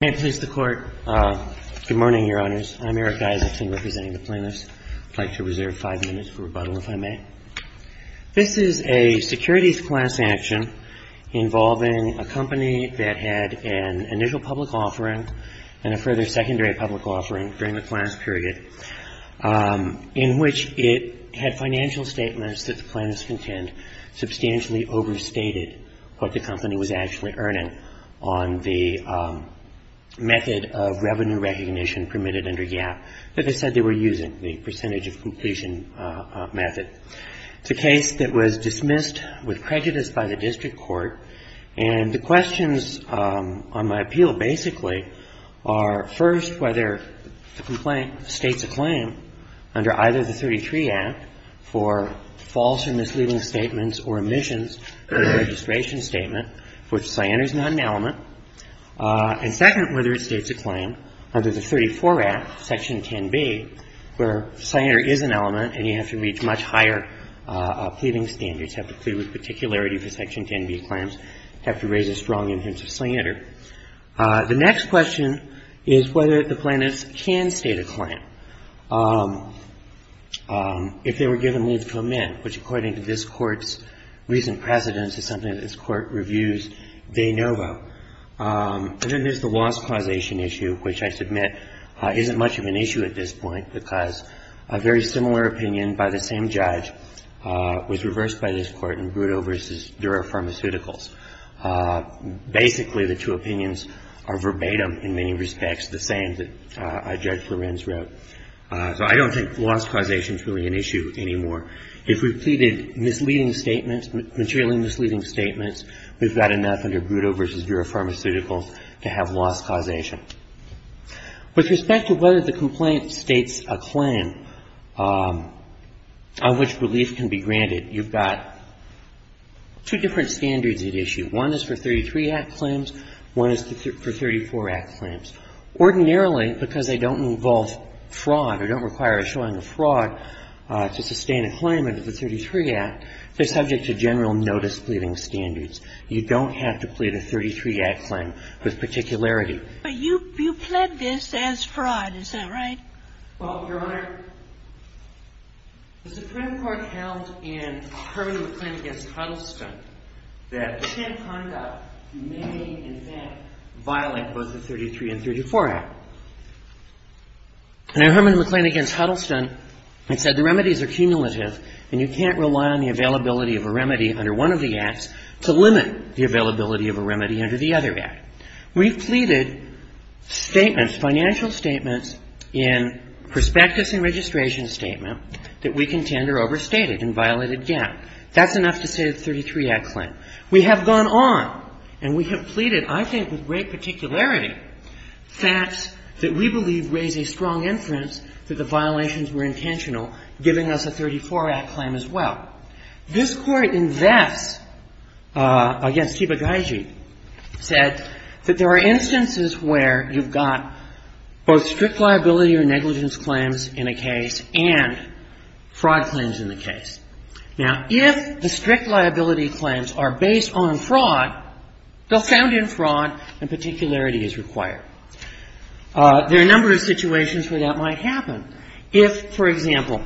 Good morning, Your Honors. I'm Eric Dysartson representing the plaintiffs. I'd like to reserve five minutes for rebuttal, if I may. This is a securities class action involving a company that had an initial public offering and a further secondary public offering during the class period in which it had financial statements that the plaintiffs contend substantially overstated what the company was actually earning on the method of revenue recognition permitted under YAP that they said they were using, the percentage of completion method. It's a case that was dismissed with prejudice by the district court, and the questions on my appeal basically are, first, whether the complaint states a claim under either the 33 Act for false or misleading statements or omissions of the registration statement, which is an element, and second, whether it states a claim under the 34 Act, Section 10b, where slander is an element and you have to reach much higher pleading standards, have to plead with particularity for Section 10b claims, have to raise a strong instance of slander. The next question is whether the plaintiffs can state a claim if they were given leave to come in, which, according to this Court's issue, which I submit isn't much of an issue at this point because a very similar opinion by the same judge was reversed by this Court in Brutto v. Dura Pharmaceuticals. Basically, the two opinions are verbatim in many respects, the same that Judge Lorenz wrote. So I don't think loss causation is really an issue anymore. If we pleaded misleading statements, materially misleading statements, we've got enough under Brutto v. Dura Pharmaceuticals to have loss causation. With respect to whether the complaint states a claim on which relief can be granted, you've got two different standards at issue. One is for 33 Act claims. One is for 34 Act claims. Ordinarily, because they don't involve fraud or don't require a showing of fraud to sustain a claim under the 33 Act, they're subject to general notice pleading standards. You don't have to plead a 33 Act claim with particularity. But you pled this as fraud. Is that right? Well, Your Honor, the Supreme Court held in Herman McLean v. Huddleston that sham conduct may, in fact, violate both the 33 and 34 Act. And in Herman McLean v. Huddleston, it said the remedies are cumulative and you can't rely on the availability of a remedy under one of the other Act. We've pleaded statements, financial statements, in prospectus and registration statement that we contend are overstated and violated gap. That's enough to say the 33 Act claim. We have gone on and we have pleaded, I think, with great particularity, facts that we believe raise a strong inference that the violations were intentional, giving us a 34 Act claim as well. This Court in Vess against Kibagaiji said that there are instances where you've got both strict liability or negligence claims in a case and fraud claims in the case. Now, if the strict liability claims are based on fraud, they'll sound in fraud and particularity is required. There are a number of situations where that might happen. If, for example,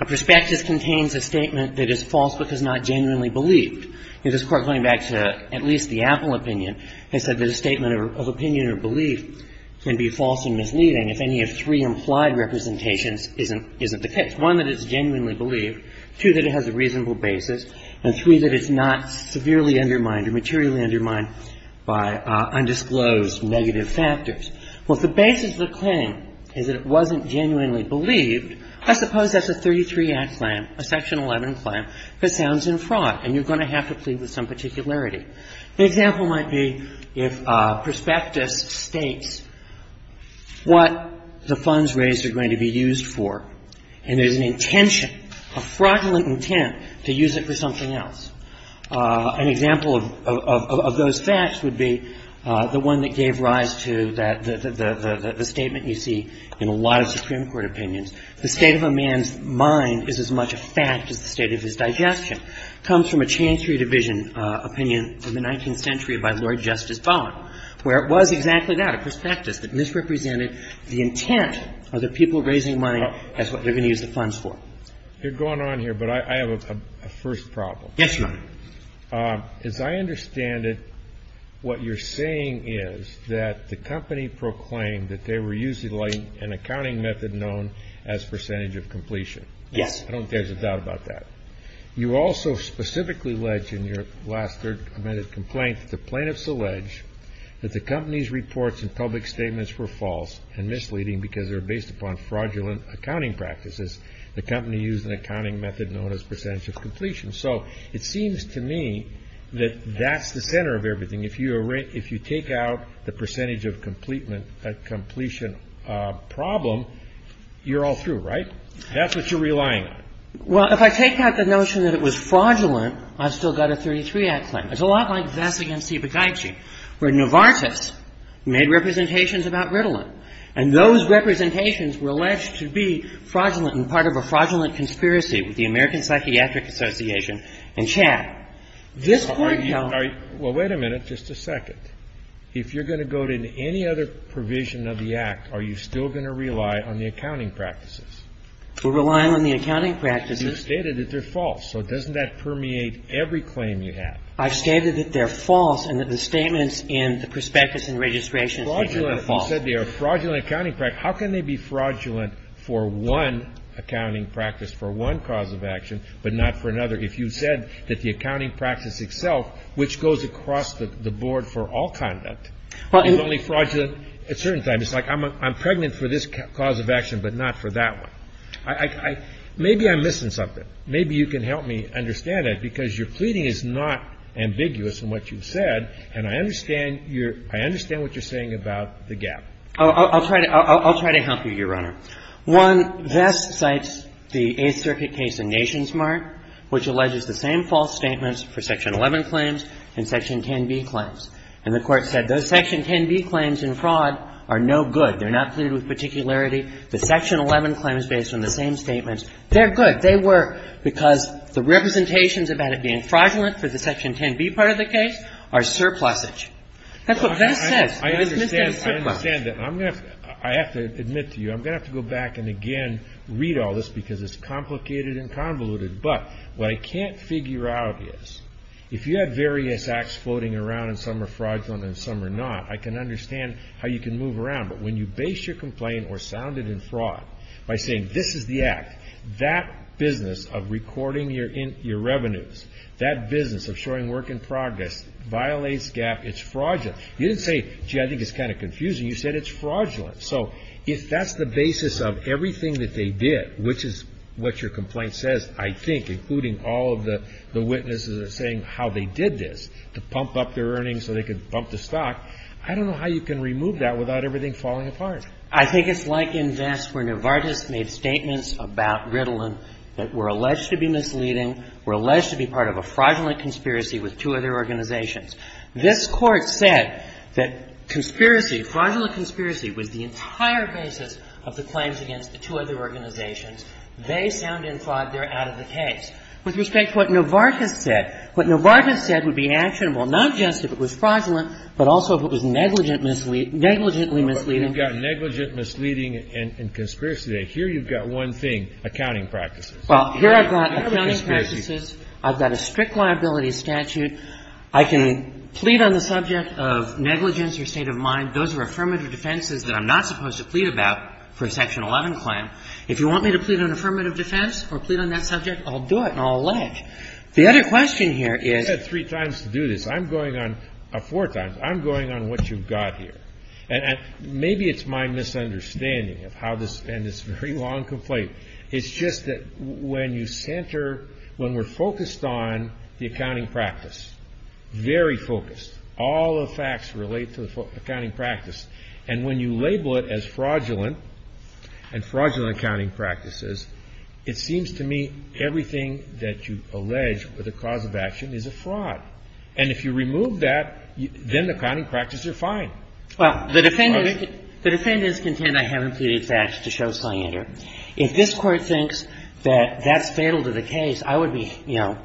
a prospectus contains a statement that is false because not genuinely believed. This Court, going back to at least the Apple opinion, has said that a statement of opinion or belief can be false and misleading if any of three implied representations isn't the case. One, that it's genuinely believed. Two, that it has a reasonable basis. And three, that it's not severely undermined or materially undermined by undisclosed negative factors. Well, if the basis of the claim is that it wasn't genuinely believed, I suppose that's a 33 Act claim, a Section 11 claim, that sounds in fraud and you're going to have to plead with some particularity. The example might be if a prospectus states what the funds raised are going to be used for and there's an intention, a fraudulent intent to use it for something else. An example of those facts would be the one that gave rise to the statement you see in a lot of Supreme Court opinions. The state of a man's mind is as much a fact as the state of his digestion. It comes from a Chancery Division opinion from the 19th century by Lord Justice Baum, where it was exactly that, a prospectus that misrepresented the intent of the people raising money as what they're going to use the funds for. You're going on here, but I have a first problem. Yes, Your Honor. As I understand it, what you're saying is that the company proclaimed that they were using an accounting method known as percentage of completion. Yes. I don't think there's a doubt about that. You also specifically allege in your last third amended complaint that the plaintiffs allege that the company's reports and public statements were false and misleading because they were based upon fraudulent accounting practices. The company used an accounting method known as percentage of completion. So it seems to me that that's the center of everything. If you take out the percentage of completion problem, you're all through, right? That's what you're relying on. Well, if I take out the notion that it was fraudulent, I've still got a 33-act claim. It's a lot like this against Ibagaichi, where Novartis made representations about Ritalin, and those representations were alleged to be fraudulent and part of a fraudulent conspiracy with the American Psychiatric Association and CHAP. This court held that. Well, wait a minute. Just a second. If you're going to go to any other provision of the Act, are you still going to rely on the accounting practices? We're relying on the accounting practices. You stated that they're false. So doesn't that permeate every claim you have? I've stated that they're false and that the statements in the prospectus and registration statement are false. If you said they are fraudulent accounting practices, how can they be fraudulent for one accounting practice, for one cause of action, but not for another? If you said that the accounting practice itself, which goes across the board for all conduct, is only fraudulent at certain times, it's like I'm pregnant for this cause of action, but not for that one. Maybe I'm missing something. Maybe you can help me understand that, because your pleading is not ambiguous in what you've said, and I understand your – I understand what you're saying about the gap. I'll try to – I'll try to help you, Your Honor. One, Vest cites the Eighth Circuit case in NationsMart, which alleges the same false statements for Section 11 claims and Section 10b claims. And the Court said those Section 10b claims in fraud are no good. They're not pleaded with particularity. The Section 11 claims based on the same statements, they're good. They work because the representations about it being fraudulent for the Section That's what Vest says. I understand that. I'm going to – I have to admit to you, I'm going to have to go back and again read all this, because it's complicated and convoluted. But what I can't figure out is if you have various acts floating around, and some are fraudulent and some are not, I can understand how you can move around. But when you base your complaint or sound it in fraud by saying this is the act, that business of recording your revenues, that business of showing work in progress, violates GAAP, it's fraudulent, you didn't say, gee, I think it's kind of confusing. You said it's fraudulent. So if that's the basis of everything that they did, which is what your complaint says, I think, including all of the witnesses that are saying how they did this, to pump up their earnings so they could pump the stock, I don't know how you can remove that without everything falling apart. I think it's like in Vest where Novartis made statements about Ritalin that were alleged to be misleading, were alleged to be part of a fraudulent conspiracy with two other organizations. This Court said that conspiracy, fraudulent conspiracy, was the entire basis of the claims against the two other organizations. They sound in fraud. They're out of the case. With respect to what Novartis said, what Novartis said would be actionable not just if it was fraudulent, but also if it was negligently misleading. Kennedy. You've got negligent, misleading, and conspiracy there. Here you've got one thing, accounting practices. Well, here I've got accounting practices. I've got a strict liability statute. I can plead on the subject of negligence or state of mind. Those are affirmative defenses that I'm not supposed to plead about for a Section 11 claim. If you want me to plead on affirmative defense or plead on that subject, I'll do it and I'll allege. The other question here is you said three times to do this. I'm going on four times. I'm going on what you've got here. Maybe it's my misunderstanding and it's a very long complaint. It's just that when you center, when we're focused on the accounting practice, very focused, all the facts relate to the accounting practice. And when you label it as fraudulent and fraudulent accounting practices, it seems to me everything that you allege with a cause of action is a fraud. And if you remove that, then the accounting practices are fine. Well, the defendants contend I haven't pleaded facts to show signature. If this Court thinks that that's fatal to the case, I would be, you know,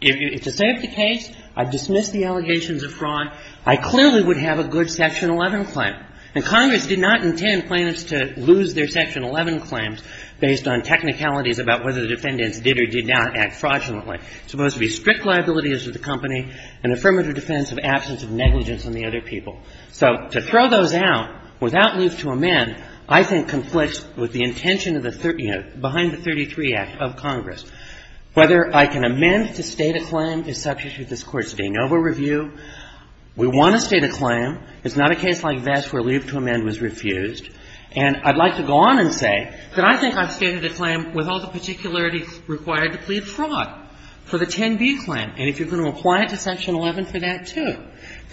if to save the case, I dismiss the allegations of fraud, I clearly would have a good Section 11 claim. And Congress did not intend plaintiffs to lose their Section 11 claims based on technicalities about whether the defendants did or did not act fraudulently. It's supposed to be strict liability as with the company, an affirmative defense of absence of negligence on the other people. So to throw those out without leave to amend I think conflicts with the intention of the, you know, behind the 33 Act of Congress. Whether I can amend to state a claim to substitute this Court's de novo review, we want to state a claim. It's not a case like this where leave to amend was refused. And I'd like to go on and say that I think I've stated a claim with all the particularities required to plead fraud for the 10b claim. And if you're going to apply it to Section 11 for that, too.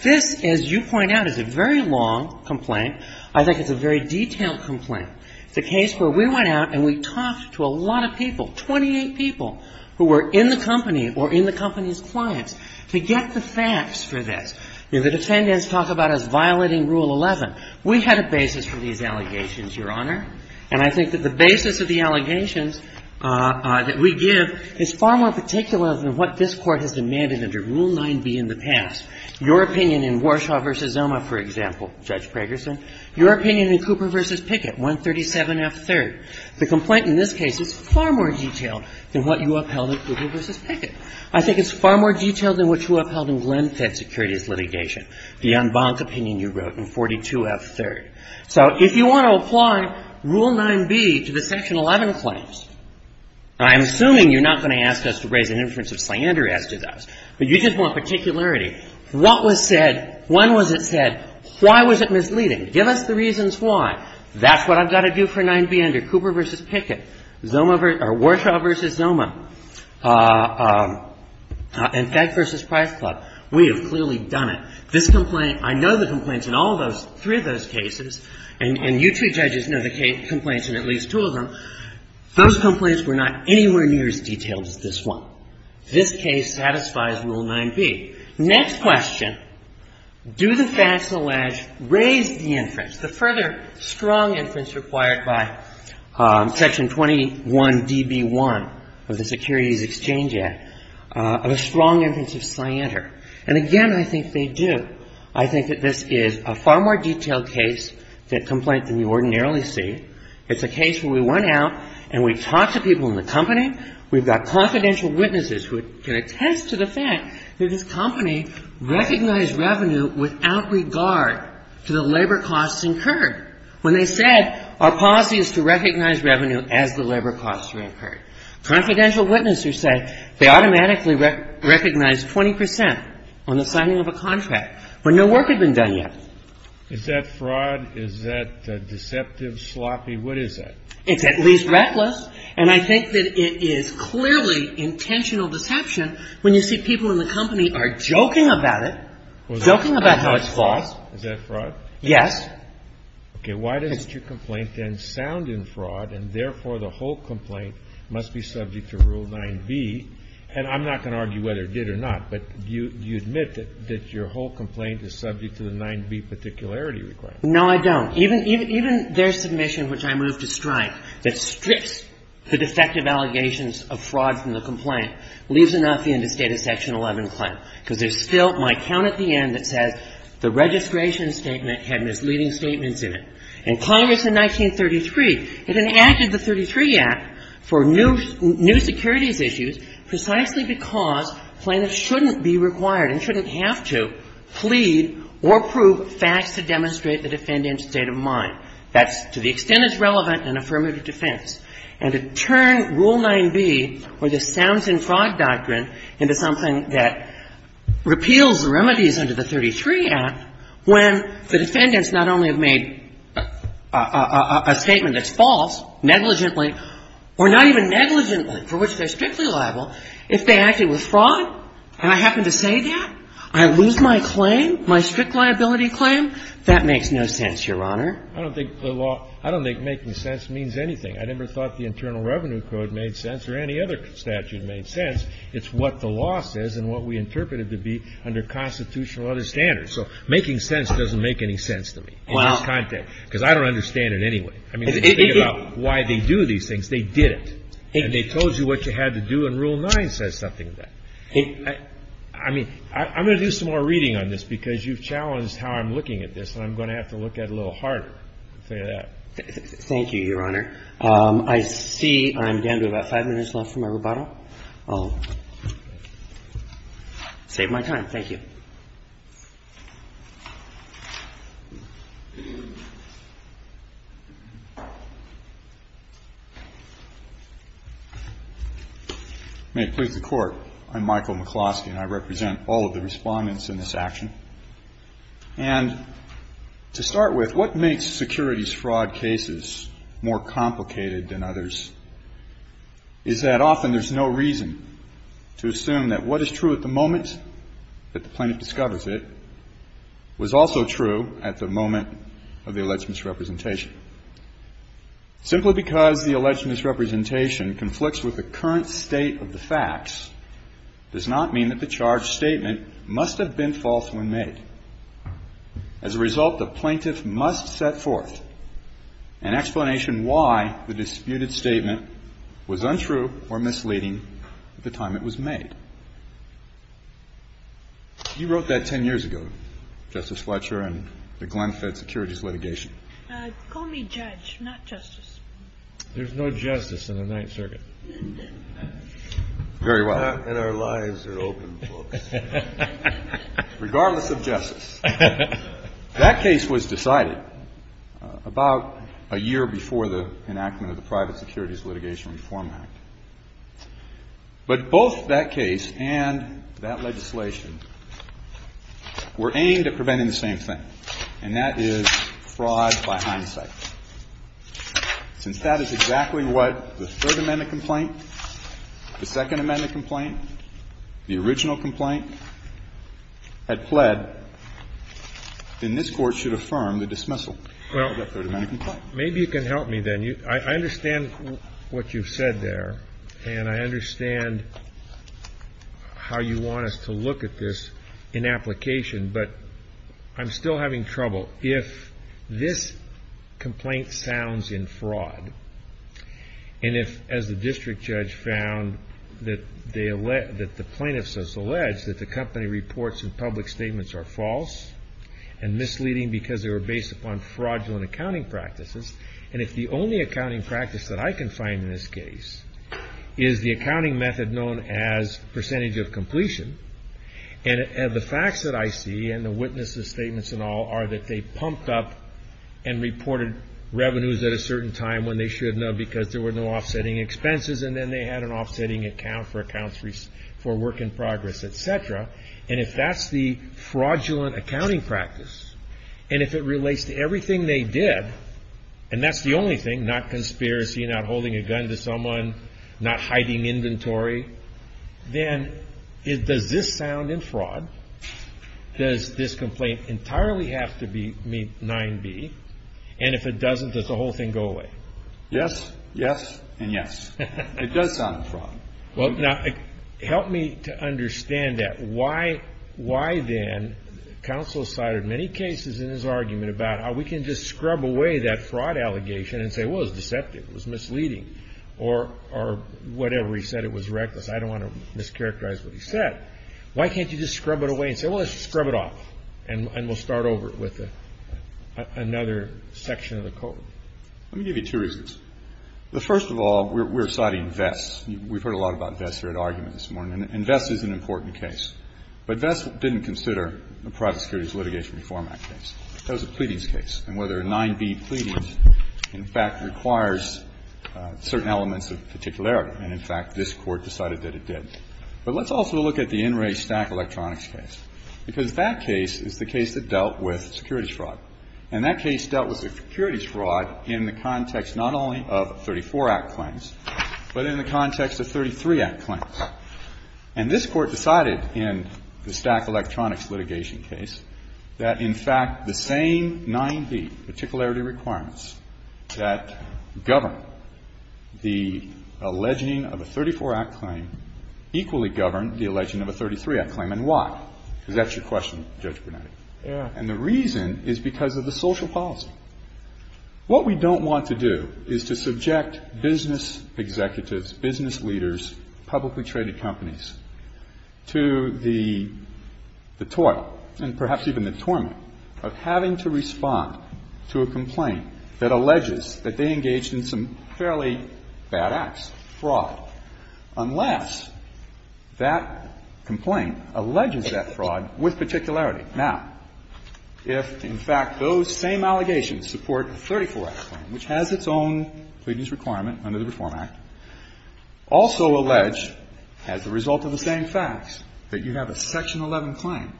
This, as you point out, is a very long complaint. I think it's a very detailed complaint. It's a case where we went out and we talked to a lot of people, 28 people, who were in the company or in the company's clients to get the facts for this. You know, the defendants talk about us violating Rule 11. We had a basis for these allegations, Your Honor. And I think that the basis of the allegations that we give is far more particular than what this Court has demanded under Rule 9b in the past. Your opinion in Warshaw v. Zoma, for example, Judge Pragerson. Your opinion in Cooper v. Pickett, 137F3rd. The complaint in this case is far more detailed than what you upheld in Cooper v. Pickett. I think it's far more detailed than what you upheld in Glenn Fitt's securities litigation, the en banc opinion you wrote in 42F3rd. So if you want to apply Rule 9b to the Section 11 claims, I'm assuming you're not going to ask us to raise an inference of slander as to those, but you just want to raise an inference of particularity. What was said? When was it said? Why was it misleading? Give us the reasons why. That's what I've got to do for 9b under Cooper v. Pickett. Warshaw v. Zoma. And Fed v. Price Club. We have clearly done it. This complaint, I know the complaints in all those, three of those cases, and you two judges know the complaints in at least two of them. Those complaints were not anywhere near as detailed as this one. This case satisfies Rule 9b. Next question, do the facts allege raise the inference, the further strong inference required by Section 21db1 of the Securities Exchange Act, of a strong inference of slander? And, again, I think they do. I think that this is a far more detailed case, that complaint, than you ordinarily see. It's a case where we went out and we talked to people in the company. We've got confidential witnesses who can attest to the fact that this company recognized revenue without regard to the labor costs incurred. When they said our policy is to recognize revenue as the labor costs are incurred. Confidential witnesses said they automatically recognized 20 percent on the signing of a contract when no work had been done yet. Is that fraud? Is that deceptive, sloppy? What is that? It's at least reckless. And I think that it is clearly intentional deception when you see people in the company are joking about it, joking about how it's false. Is that fraud? Yes. Okay. Why doesn't your complaint then sound in fraud, and therefore the whole complaint must be subject to Rule 9b? And I'm not going to argue whether it did or not, but do you admit that your whole complaint is subject to the 9b particularity requirement? No, I don't. Even their submission, which I move to strike, that strips the defective allegations of fraud from the complaint leaves enough in the State of Section 11 claim, because there's still my count at the end that says the registration statement had misleading statements in it. And Congress in 1933, it enacted the 33 Act for new securities issues precisely because plaintiffs shouldn't be required and shouldn't have to plead or prove facts to demonstrate the defendant's state of mind. That's to the extent it's relevant in affirmative defense. And to turn Rule 9b or the sounds-in-fraud doctrine into something that repeals the remedies under the 33 Act when the defendants not only have made a statement that's false negligently or not even negligently, for which they're strictly liable, if they acted with fraud, and I happen to say that, I lose my claim, my strict liability claim, that makes no sense, Your Honor. I don't think the law – I don't think making sense means anything. I never thought the Internal Revenue Code made sense or any other statute made sense. It's what the law says and what we interpret it to be under constitutional other standards. So making sense doesn't make any sense to me in this context, because I don't understand it anyway. I mean, when you think about why they do these things, they didn't. And they told you what you had to do, and Rule 9 says something to that. I mean, I'm going to do some more reading on this, because you've challenged how I'm looking at this, and I'm going to have to look at it a little harder, to tell you that. Thank you, Your Honor. I see I'm down to about five minutes left for my rebuttal. I'll save my time. May it please the Court, I'm Michael McCloskey, and I represent all of the respondents in this action. And to start with, what makes securities fraud cases more complicated than others is that often there's no reason to assume that what is true at the moment that the charge was made was also true at the moment of the alleged misrepresentation. Simply because the alleged misrepresentation conflicts with the current state of the facts does not mean that the charge statement must have been false when made. As a result, the plaintiff must set forth an explanation why the disputed statement was untrue or misleading at the time it was made. You wrote that 10 years ago, Justice Fletcher, in the Glenn Fed Securities Litigation. Call me Judge, not Justice. There's no justice in the Ninth Circuit. Very well. And our lives are open, folks. Regardless of justice, that case was decided about a year before the enactment of the Private Securities Litigation Reform Act. But both that case and that legislation were aimed at preventing the same thing, and that is fraud by hindsight. Since that is exactly what the Third Amendment complaint, the Second Amendment complaint, the original complaint had pled, then this Court should affirm the dismissal of the Third Amendment complaint. Maybe you can help me then. I understand what you've said there, and I understand how you want us to look at this in application, but I'm still having trouble. If this complaint sounds in fraud, and if, as the District Judge found, that the plaintiffs have alleged that the company reports and public statements are false and misleading because they were based upon fraudulent accounting practices, and if the only accounting practice that I can find in this case is the accounting method known as percentage of completion, and the facts that I see, and the witnesses' statements and all, are that they pumped up and reported revenues at a certain time when they should not because there were no offsetting expenses, and then they had an offsetting account for accounts for work in progress, et cetera, and if that's the fraudulent accounting practice, and if it relates to everything they did, and that's the only thing, not conspiracy, not holding a gun to someone, not hiding inventory, then does this sound in fraud? Does this complaint entirely have to meet 9b? And if it doesn't, does the whole thing go away? Yes, yes, and yes. It does sound in fraud. Well, now, help me to understand that. Why, then, counsel cited many cases in his argument about how we can just scrub away that fraud allegation and say, well, it was deceptive, it was misleading, or whatever he said, it was reckless. I don't want to mischaracterize what he said. Why can't you just scrub it away and say, well, let's scrub it off, and we'll start over with another section of the code? Let me give you two reasons. First of all, we're citing vests. We've heard a lot about vests here at argument this morning, and vests is an important case. But vests didn't consider a private securities litigation reform act case. That was a pleadings case. And whether a 9b pleading, in fact, requires certain elements of particularity, and, in fact, this Court decided that it did. But let's also look at the NRA Stack Electronics case, because that case is the case that dealt with securities fraud. And that case dealt with securities fraud in the context not only of 34 Act claims, but in the context of 33 Act claims. And this Court decided in the Stack Electronics litigation case that, in fact, the same 9b particularity requirements that govern the alleging of a 34 Act claim equally govern the alleging of a 33 Act claim. And why? Because that's your question, Judge Brunetti. And the reason is because of the social policy. What we don't want to do is to subject business executives, business leaders, publicly traded companies to the tort and perhaps even the torment of having to respond to a complaint that alleges that they engaged in some fairly bad acts, fraud, unless that complaint alleges that fraud with particularity. Now, if, in fact, those same allegations support a 34 Act claim, which has its own pleadings requirement under the Reform Act, also allege, as a result of the same facts, that you have a Section 11 claim,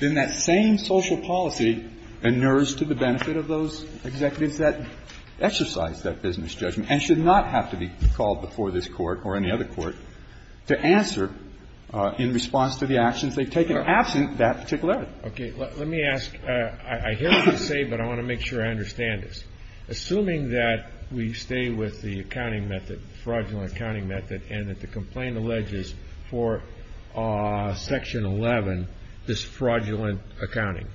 then that same social policy inures to the benefit of those executives that exercise that business judgment and should not have to be called before this Court or any other Court to answer in response to the actions they've taken absent that particularity. Okay. Let me ask. I hear what you say, but I want to make sure I understand this. Assuming that we stay with the accounting method, fraudulent accounting method, and that the complaint alleges for Section 11 this fraudulent accounting,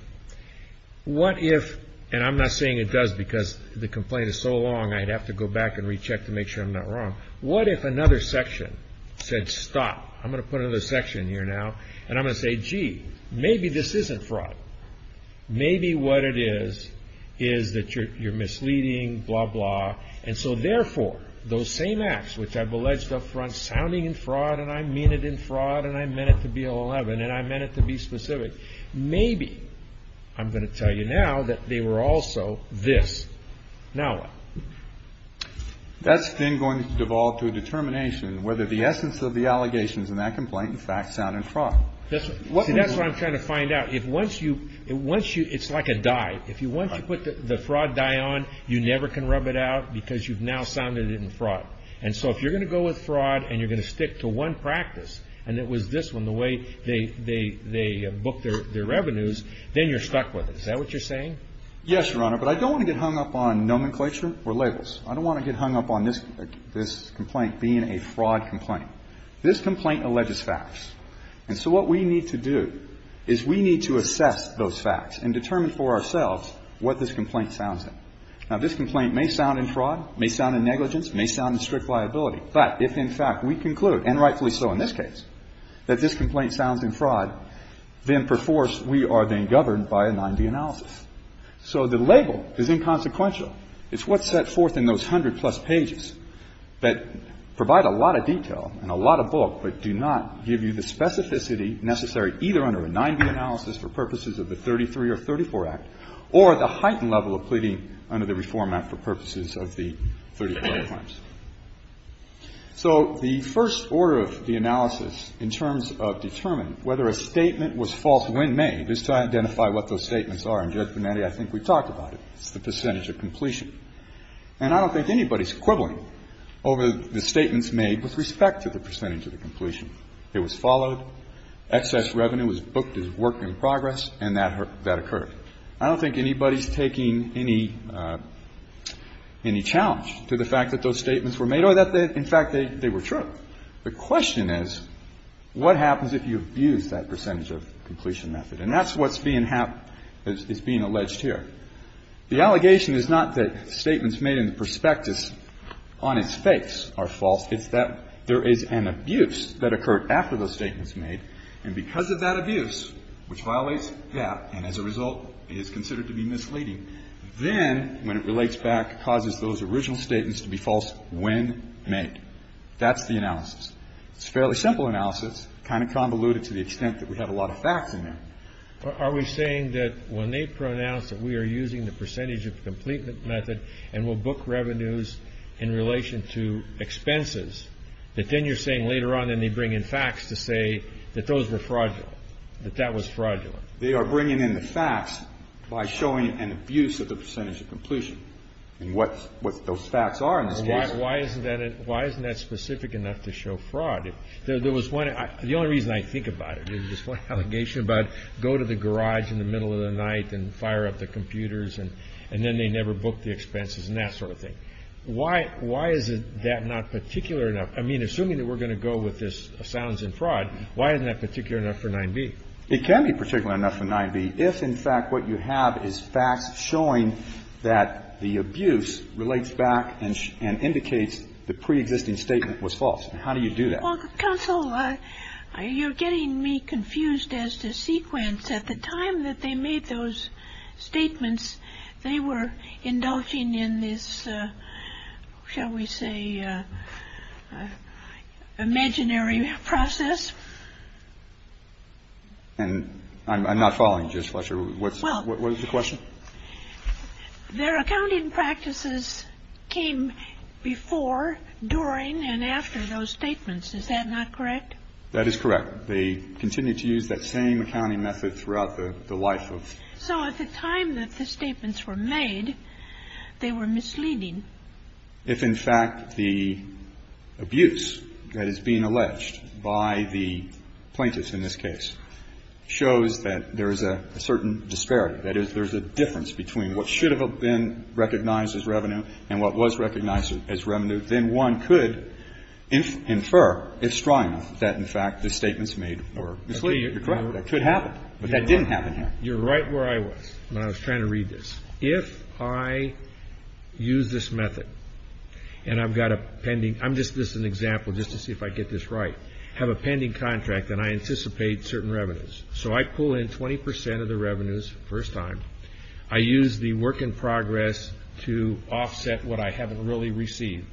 what if and I'm not saying it does because the complaint is so long I'd have to go back and recheck to make sure I'm not wrong. What if another section said stop? I'm going to put another section here now and I'm going to say, gee, maybe this isn't fraud. Maybe what it is is that you're misleading, blah, blah. And so, therefore, those same acts which I've alleged up front sounding in fraud and I mean it in fraud and I meant it to be 11 and I meant it to be specific, maybe I'm going to tell you now that they were also this. Now what? That's then going to devolve to a determination whether the essence of the allegations in that complaint in fact sound in fraud. See, that's what I'm trying to find out. If once you – it's like a dye. If once you put the fraud dye on, you never can rub it out because you've now sounded it in fraud. And so if you're going to go with fraud and you're going to stick to one practice and it was this one, the way they book their revenues, then you're stuck with it. Is that what you're saying? Yes, Your Honor. But I don't want to get hung up on nomenclature or labels. I don't want to get hung up on this complaint being a fraud complaint. This complaint alleges facts. And so what we need to do is we need to assess those facts and determine for ourselves what this complaint sounds like. Now, this complaint may sound in fraud, may sound in negligence, may sound in strict liability. But if in fact we conclude, and rightfully so in this case, that this complaint sounds in fraud, then perforce we are then governed by a 9B analysis. So the label is inconsequential. It's what's set forth in those 100-plus pages that provide a lot of detail and a lot of bulk but do not give you the specificity necessary either under a 9B analysis for purposes of the 33 or 34 Act or the heightened level of pleading under the Reform Act for purposes of the 34 Act claims. So the first order of the analysis in terms of determining whether a statement was false when made is to identify what those statements are. And, Judge Bonetti, I think we talked about it. It's the percentage of completion. And I don't think anybody's quibbling over the statements made with respect to the percentage of the completion. It was followed. Excess revenue was booked as work in progress. And that occurred. I don't think anybody's taking any challenge to the fact that those statements were made or that in fact they were true. The question is what happens if you abuse that percentage of completion method? And that's what's being alleged here. The allegation is not that statements made in the prospectus on its face are false. It's that there is an abuse that occurred after those statements made. And because of that abuse, which violates that and as a result is considered to be misleading, then when it relates back causes those original statements to be false when made. That's the analysis. It's a fairly simple analysis, kind of convoluted to the extent that we have a lot of facts in there. Are we saying that when they pronounce that we are using the percentage of completion method and will book revenues in relation to expenses, that then you're saying later on then they bring in facts to say that those were fraudulent, that that was fraudulent? They are bringing in the facts by showing an abuse of the percentage of completion. And what those facts are in this case. Why isn't that specific enough to show fraud? The only reason I think about it is this allegation about go to the garage in the middle of the night and fire up the computers and then they never book the expenses and that sort of thing. Why is that not particular enough? I mean, assuming that we're going to go with this silence and fraud, why isn't that particular enough for 9b? It can be particular enough for 9b if in fact what you have is facts showing that the abuse relates back and indicates the preexisting statement was false. How do you do that? Counsel, you're getting me confused as to sequence. At the time that they made those statements, they were indulging in this, shall we say, imaginary process. And I'm not following. What was the question? Their accounting practices came before, during and after those statements. Is that not correct? That is correct. They continued to use that same accounting method throughout the life of the plaintiff. So at the time that the statements were made, they were misleading. If in fact the abuse that is being alleged by the plaintiffs in this case shows that there is a certain disparity, that is there's a difference between what should have been recognized as revenue and what was recognized as revenue, then one could infer, if strong enough, that in fact the statements made were misleading. You're correct. That could happen. But that didn't happen here. You're right where I was when I was trying to read this. If I use this method and I've got a pending – I'm just – this is an example just to see if I get this right. I have a pending contract and I anticipate certain revenues. So I pull in 20 percent of the revenues the first time. I use the work in progress to offset what I haven't really received.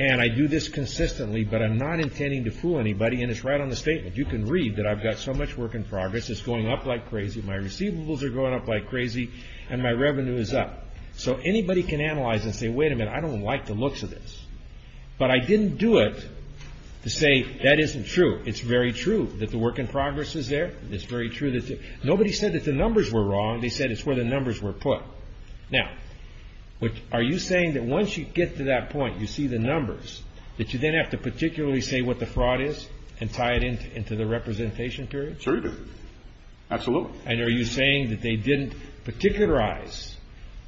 And I do this consistently, but I'm not intending to fool anybody. And it's right on the statement. You can read that I've got so much work in progress. It's going up like crazy. My receivables are going up like crazy and my revenue is up. So anybody can analyze and say, wait a minute, I don't like the looks of this. But I didn't do it to say that isn't true. It's very true that the work in progress is there. It's very true that – nobody said that the numbers were wrong. They said it's where the numbers were put. Now, are you saying that once you get to that point, you see the numbers, that you then have to particularly say what the fraud is and tie it into the representation period? Certainly. Absolutely. And are you saying that they didn't particularize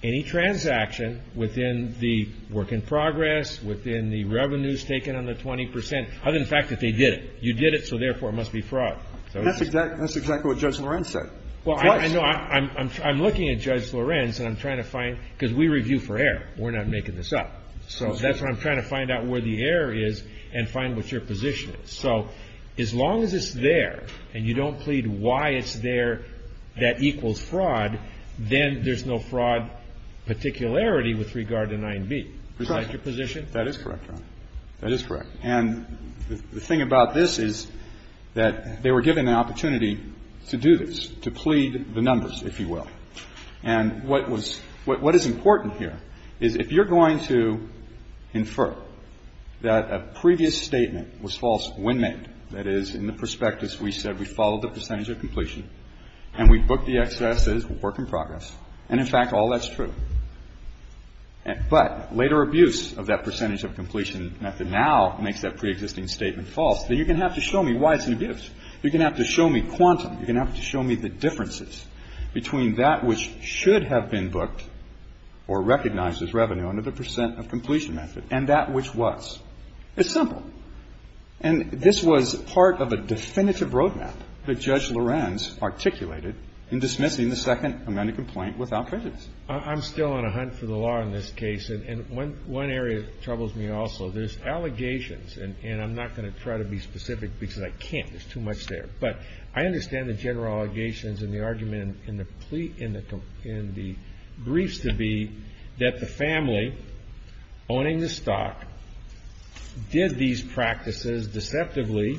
any transaction within the work in progress, within the revenues taken on the 20 percent, other than the fact that they did it? You did it, so therefore it must be fraud. That's exactly what Judge Lorenz said. Well, I'm looking at Judge Lorenz and I'm trying to find – because we review for error. We're not making this up. So that's why I'm trying to find out where the error is and find what your position is. So as long as it's there and you don't plead why it's there that equals fraud, then there's no fraud particularity with regard to 9b. Is that your position? That is correct, Your Honor. That is correct. And the thing about this is that they were given the opportunity to do this, to plead the numbers, if you will. And what was – what is important here is if you're going to infer that a previous statement was false when made, that is, in the prospectus we said we followed the percentage of completion and we booked the excesses, work in progress, and, in fact, all that's true, but later abuse of that percentage of completion method now makes that preexisting statement false, then you're going to have to show me why it's an abuse. You're going to have to show me quantum. You're going to have to show me the differences between that which should have been booked or recognized as revenue under the percent of completion method and that which was. It's simple. And this was part of a definitive roadmap that Judge Lorenz articulated in dismissing the second amended complaint without prejudice. I'm still on a hunt for the law in this case. And one area that troubles me also, there's allegations, and I'm not going to try to be specific because I can't. There's too much there. But I understand the general allegations and the argument in the briefs to be that the family owning the stock did these practices deceptively,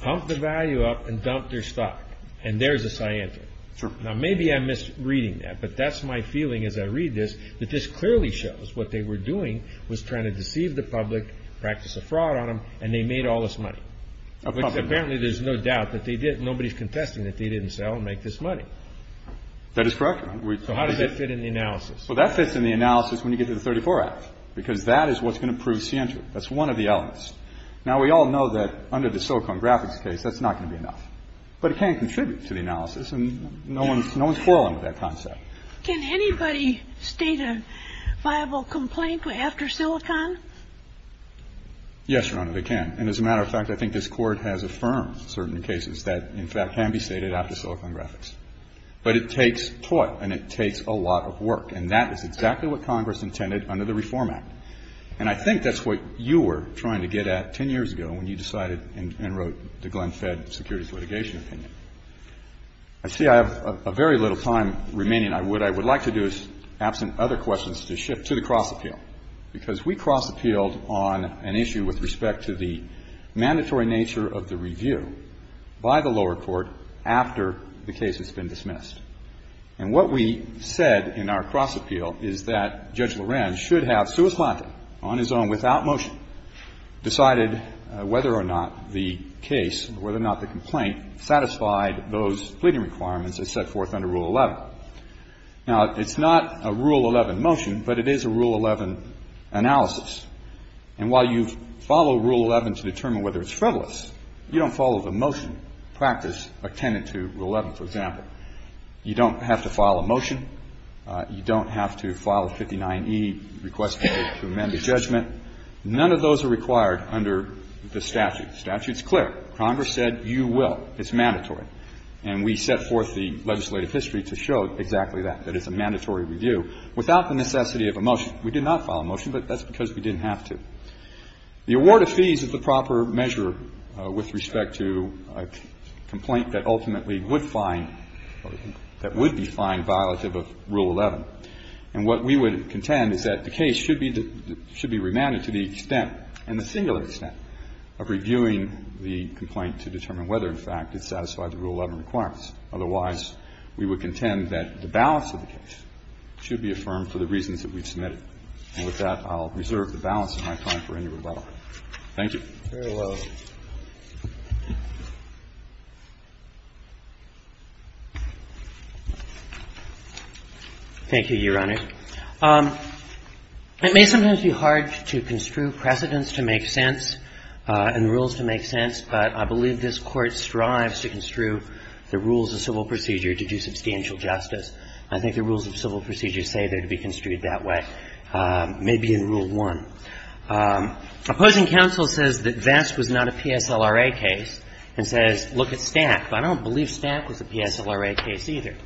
pumped the value up, and dumped their stock. And there's a scientific. Sure. Now, maybe I missed reading that, but that's my feeling as I read this, that this clearly shows what they were doing was trying to deceive the public, practice a fraud on them, and they made all this money. Which apparently there's no doubt that they did. Nobody's contesting that they didn't sell and make this money. That is correct. So how does that fit in the analysis? Well, that fits in the analysis when you get to the 34 Act because that is what's going to prove scientific. That's one of the elements. Now, we all know that under the Silicon Graphics case, that's not going to be enough. But it can contribute to the analysis, and no one's quarreling with that concept. Can anybody state a viable complaint after Silicon? Yes, Your Honor, they can. And as a matter of fact, I think this Court has affirmed certain cases that, in fact, can be stated after Silicon Graphics. But it takes thought and it takes a lot of work. And that is exactly what Congress intended under the Reform Act. And I think that's what you were trying to get at 10 years ago when you decided and wrote the Glenn Fed Securities Litigation Opinion. I see I have very little time remaining. What I would like to do is, absent other questions, to shift to the cross-appeal, because we cross-appealed on an issue with respect to the mandatory nature of the review by the lower court after the case has been dismissed. And what we said in our cross-appeal is that Judge Lorenz should have Suez Plata, on his own, decided whether or not the case or whether or not the complaint satisfied those pleading requirements as set forth under Rule 11. Now, it's not a Rule 11 motion, but it is a Rule 11 analysis. And while you follow Rule 11 to determine whether it's frivolous, you don't follow the motion practice attendant to Rule 11, for example. You don't have to file a motion. You don't have to file a 59E request to amend the judgment. None of those are required under the statute. The statute's clear. Congress said you will. It's mandatory. And we set forth the legislative history to show exactly that, that it's a mandatory review, without the necessity of a motion. We did not follow a motion, but that's because we didn't have to. The award of fees is the proper measure with respect to a complaint that ultimately would find or that would be fined violative of Rule 11. And what we would contend is that the case should be remanded to the extent and the singular extent of reviewing the complaint to determine whether, in fact, it satisfied the Rule 11 requirements. Otherwise, we would contend that the balance of the case should be affirmed for the reasons that we've submitted. And with that, I'll reserve the balance of my time for any rebuttal. Thank you. Very well. Thank you, Your Honor. It may sometimes be hard to construe precedents to make sense and rules to make sense, but I believe this Court strives to construe the rules of civil procedure to do substantial justice. I think the rules of civil procedure say they're to be construed that way, maybe in Rule 1. Opposing counsel says that Vest was not a PSLRA case and says, look at Stack. But I don't believe Stack was a PSLRA case either.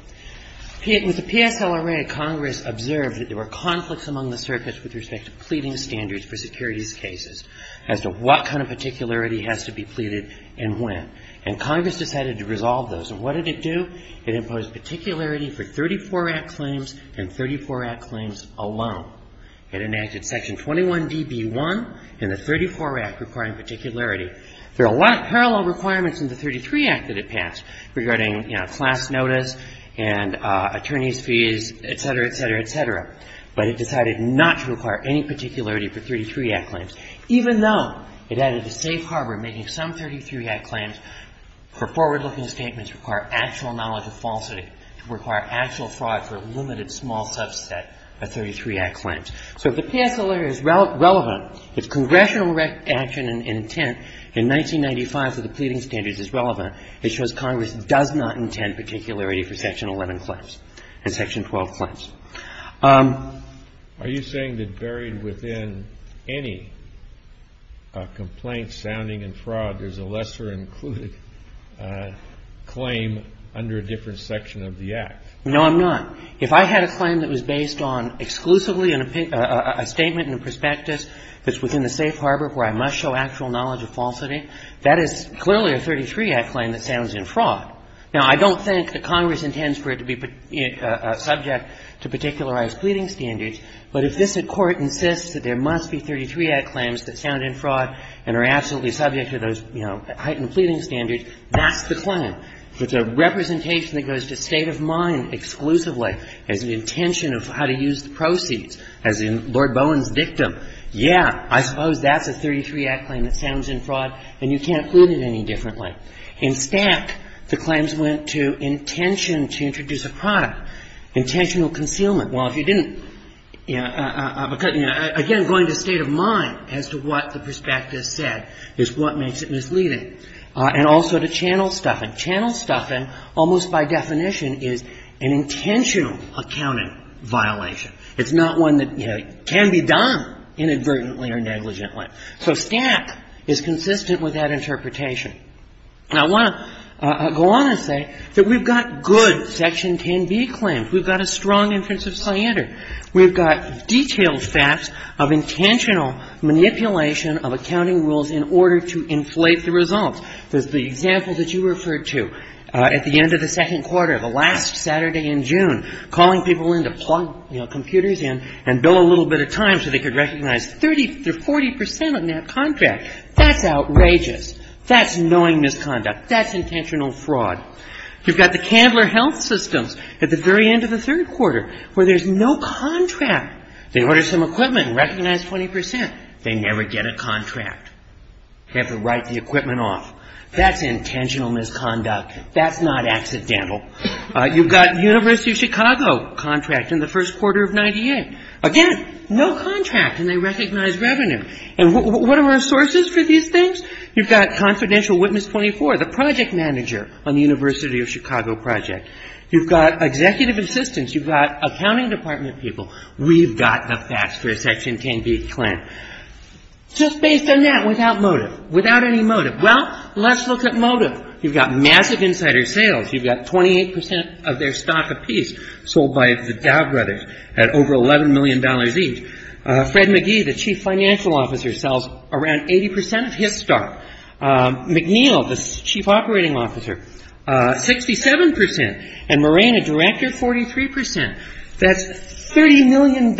With the PSLRA, Congress observed that there were conflicts among the circuits with respect to pleading standards for securities cases as to what kind of particularity has to be pleaded and when. And Congress decided to resolve those. And what did it do? It imposed particularity for 34 Act claims and 34 Act claims alone. It enacted Section 21db1 in the 34 Act requiring particularity. There are a lot of parallel requirements in the 33 Act that it passed regarding class notice and attorney's fees, et cetera, et cetera, et cetera. But it decided not to require any particularity for 33 Act claims, even though it added to safe harbor making some 33 Act claims for forward-looking statements require actual knowledge of falsity, require actual fraud for a limited small subset of the 33 Act claims. So if the PSLRA is relevant, if congressional action and intent in 1995 for the pleading standards is relevant, it shows Congress does not intend particularity for Section 11 claims and Section 12 claims. Are you saying that buried within any complaint sounding in fraud, there's a lesser included claim under a different section of the Act? No, I'm not. If I had a claim that was based on exclusively a statement and a prospectus that's within the safe harbor where I must show actual knowledge of falsity, that is clearly a 33 Act claim that sounds in fraud. Now, I don't think that Congress intends for it to be subject to particularized pleading standards. But if this Court insists that there must be 33 Act claims that sound in fraud and are absolutely subject to those, you know, heightened pleading standards, that's the claim. If it's a representation that goes to state of mind exclusively as an intention of how to use the proceeds, as in Lord Bowen's dictum, yeah, I suppose that's a 33 Act claim that sounds in fraud, and you can't plead it any differently. In Stack, the claims went to intention to introduce a product, intentional concealment. Well, if you didn't, again, going to state of mind as to what the prospectus said is what makes it misleading. And also to channel stuffing. Channel stuffing almost by definition is an intentional accounting violation. It's not one that, you know, can be done inadvertently or negligently. So Stack is consistent with that interpretation. And I want to go on and say that we've got good Section 10b claims. We've got a strong inference of standard. We've got detailed facts of intentional manipulation of accounting rules in order to inflate the results. There's the example that you referred to at the end of the second quarter, the last Saturday in June, calling people in to plug, you know, computers in and bill a little bit of time so they could recognize 30 to 40 percent on that contract. That's outrageous. That's knowing misconduct. That's intentional fraud. You've got the Candler Health Systems at the very end of the third quarter where there's no contract. They order some equipment and recognize 20 percent. They never get a contract. They have to write the equipment off. That's intentional misconduct. That's not accidental. You've got University of Chicago contracting the first quarter of 98. Again, no contract, and they recognize revenue. And what are our sources for these things? You've got Confidential Witness 24, the project manager on the University of Chicago project. You've got Executive Assistance. You've got accounting department people. We've got the facts for a Section 10b claim. Just based on that without motive, without any motive. Well, let's look at motive. You've got massive insider sales. You've got 28 percent of their stock apiece sold by the Dow Brothers at over $11 million each. Fred McGee, the chief financial officer, sells around 80 percent of his stock. McNeil, the chief operating officer, 67 percent. And Moran, a director, 43 percent. That's $30 million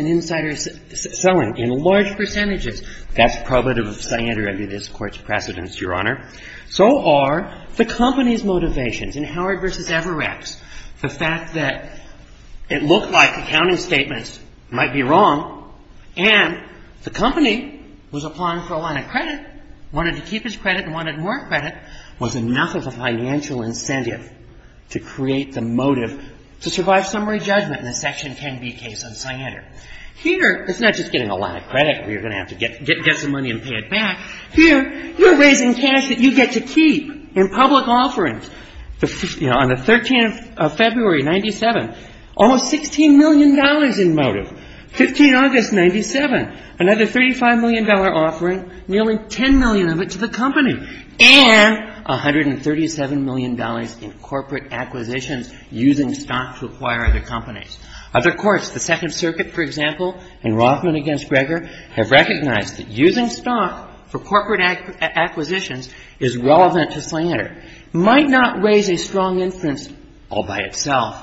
in insider selling in large percentages. That's probative of cyander under this Court's precedence, Your Honor. So are the company's motivations. In Howard v. Everett, the fact that it looked like accounting statements might be wrong and the company was applying for a line of credit, wanted to keep its credit and wanted more credit was enough of a financial incentive to create the motive to survive summary judgment in the Section 10b case on cyander. Here, it's not just getting a line of credit where you're going to have to get some money and pay it back. Here, you're raising cash that you get to keep in public offerings. You know, on the 13th of February, 97, almost $16 million in motive. 15 August, 97, another $35 million offering, nearly $10 million of it to the company. And $137 million in corporate acquisitions using stock to acquire other companies. Other courts, the Second Circuit, for example, and Rothman v. Greger have recognized that using stock for corporate acquisitions is relevant to cyander. It might not raise a strong inference all by itself,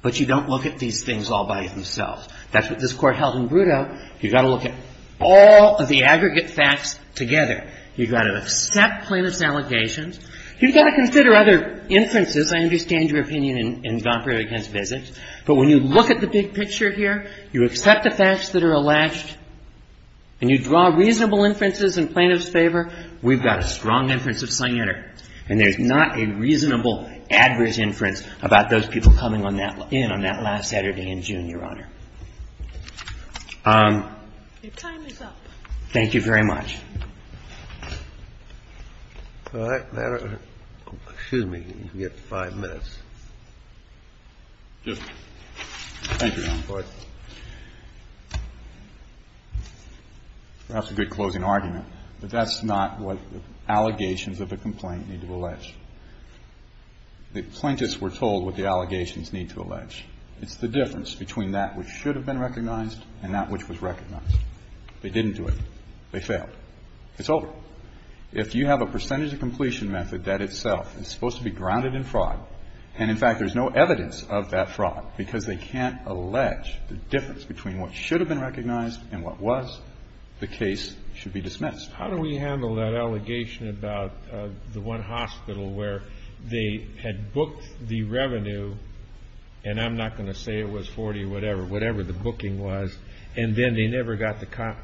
but you don't look at these things all by themselves. That's what this Court held in Brutto. You've got to look at all of the aggregate facts together. You've got to accept plaintiff's allegations. You've got to consider other inferences. I understand your opinion in Vom Praetor against physics, but when you look at the big picture here, you accept the facts that are alleged, and you draw reasonable inferences in plaintiff's favor, we've got a strong inference of cyander. And there's not a reasonable adverse inference about those people coming in on that last Saturday in June, Your Honor. Your time is up. Thank you very much. Excuse me. You have five minutes. Thank you, Your Honor. That's a good closing argument. But that's not what allegations of a complaint need to allege. The plaintiffs were told what the allegations need to allege. It's the difference between that which should have been recognized and that which was recognized. They didn't do it. They failed. It's over. If you have a percentage of completion method that itself is supposed to be grounded in fraud, and, in fact, there's no evidence of that fraud because they can't allege the difference between what should have been recognized and what was, the case should be dismissed. How do we handle that allegation about the one hospital where they had booked the revenue and I'm not going to say it was 40 or whatever, whatever the booking was, and then they never got the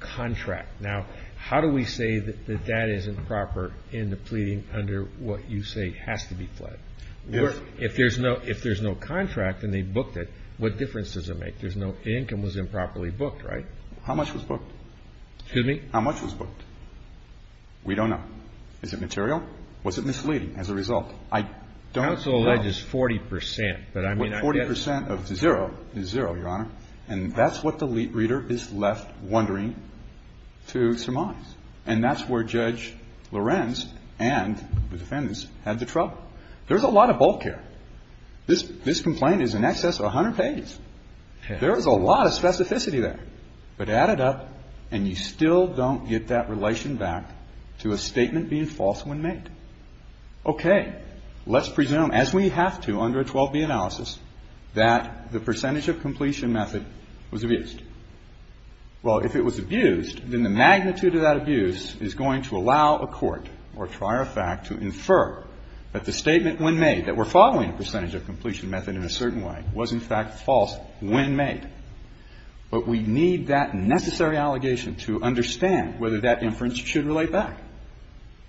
contract? Now, how do we say that that is improper in the pleading under what you say has to be fled? If there's no contract and they booked it, what difference does it make? The income was improperly booked, right? How much was booked? Excuse me? How much was booked? Is it material? Was it misleading as a result? I don't know. Counsel alleges 40 percent, but I mean I guess. Well, 40 percent of zero is zero, Your Honor, and that's what the lead reader is left wondering to surmise. And that's where Judge Lorenz and the defendants had the trouble. There's a lot of bulk here. This complaint is in excess of 100 pages. There is a lot of specificity there. But add it up and you still don't get that relation back to a statement being false when made. Okay. Let's presume, as we have to under a 12B analysis, that the percentage of completion method was abused. Well, if it was abused, then the magnitude of that abuse is going to allow a court or a trier of fact to infer that the statement when made that we're following a percentage of completion method in a certain way was, in fact, false when made. But we need that necessary allegation to understand whether that inference should relate back.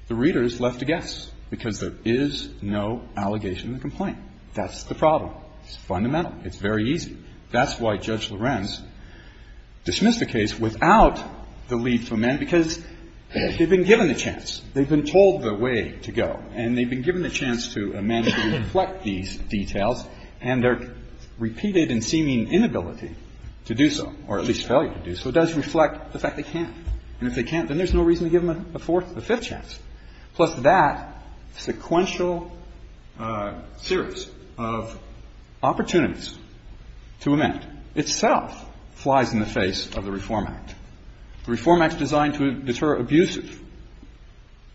The reader is left to guess, because there is no allegation in the complaint. That's the problem. It's fundamental. It's very easy. That's why Judge Lorenz dismissed the case without the lead for men, because they've been given the chance. They've been told the way to go. And they've been given the chance to imagine and reflect these details, and their repeated and seeming inability to do so, or at least failure to do so, does reflect the fact they can't. And if they can't, then there's no reason to give them a fourth or fifth chance. Plus, that sequential series of opportunities to amend itself flies in the face of the Reform Act. The Reform Act is designed to deter abusive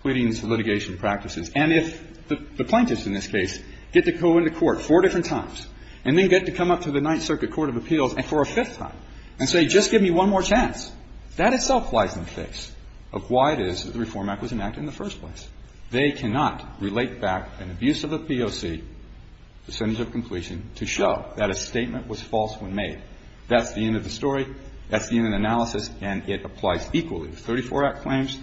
pleadings and litigation practices. And if the plaintiffs in this case get to go into court four different times and then get to come up to the Ninth Circuit Court of Appeals for a fifth time and say, just give me one more chance, that itself flies in the face of why it is that the Reform Act was enacted in the first place. They cannot relate back an abusive POC, percentage of completion, to show that a statement was false when made. That's the end of the story. That's the end of the analysis. And it applies equally to 34 Act claims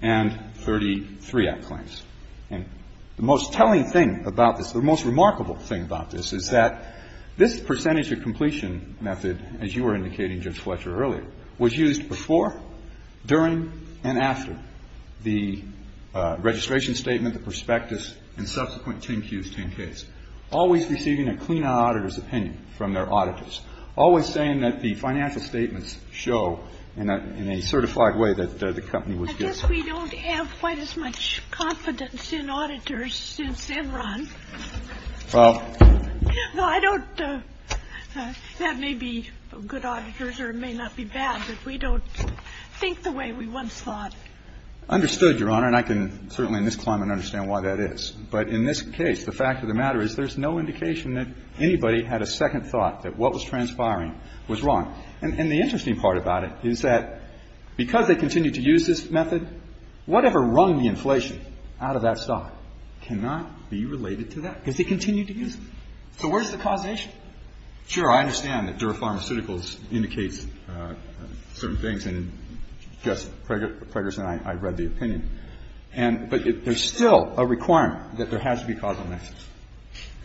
and 33 Act claims. And the most telling thing about this, the most remarkable thing about this, is that this percentage of completion method, as you were indicating, Judge Fletcher, earlier, was used before, during, and after the registration statement, the prospectus, and subsequent 10-Qs, 10-Ks, always receiving a clean auditor's opinion from their auditors, always saying that the financial statements show in a certified way that the company was giving. And I guess we don't have quite as much confidence in auditors since then, Ron. No, I don't. That may be good auditors or it may not be bad, but we don't think the way we once thought. I understood, Your Honor, and I can certainly in this climate understand why that is. But in this case, the fact of the matter is there's no indication that anybody had a second thought that what was transpiring was wrong. And the interesting part about it is that because they continued to use this method, whatever rung the inflation out of that stock cannot be related to that, because they continued to use it. So where's the causation? Sure. I understand that Dura Pharmaceuticals indicates certain things, and, Justice Pregerson, I read the opinion. But there's still a requirement that there has to be causal nexus.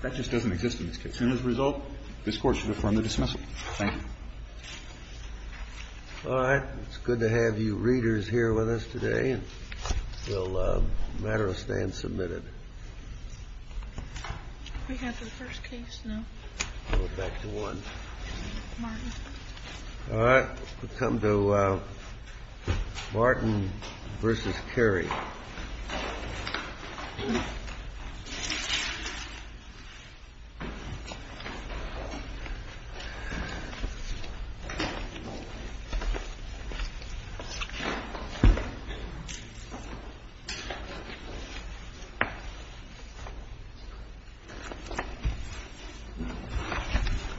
That just doesn't exist in this case. And as a result, this Court should affirm the dismissal. Thank you. All right. It's good to have you readers here with us today. We'll matter of stand submitted. We have the first case now. Go back to one. Martin. All right. We'll come to Martin versus Kerry. Thank you.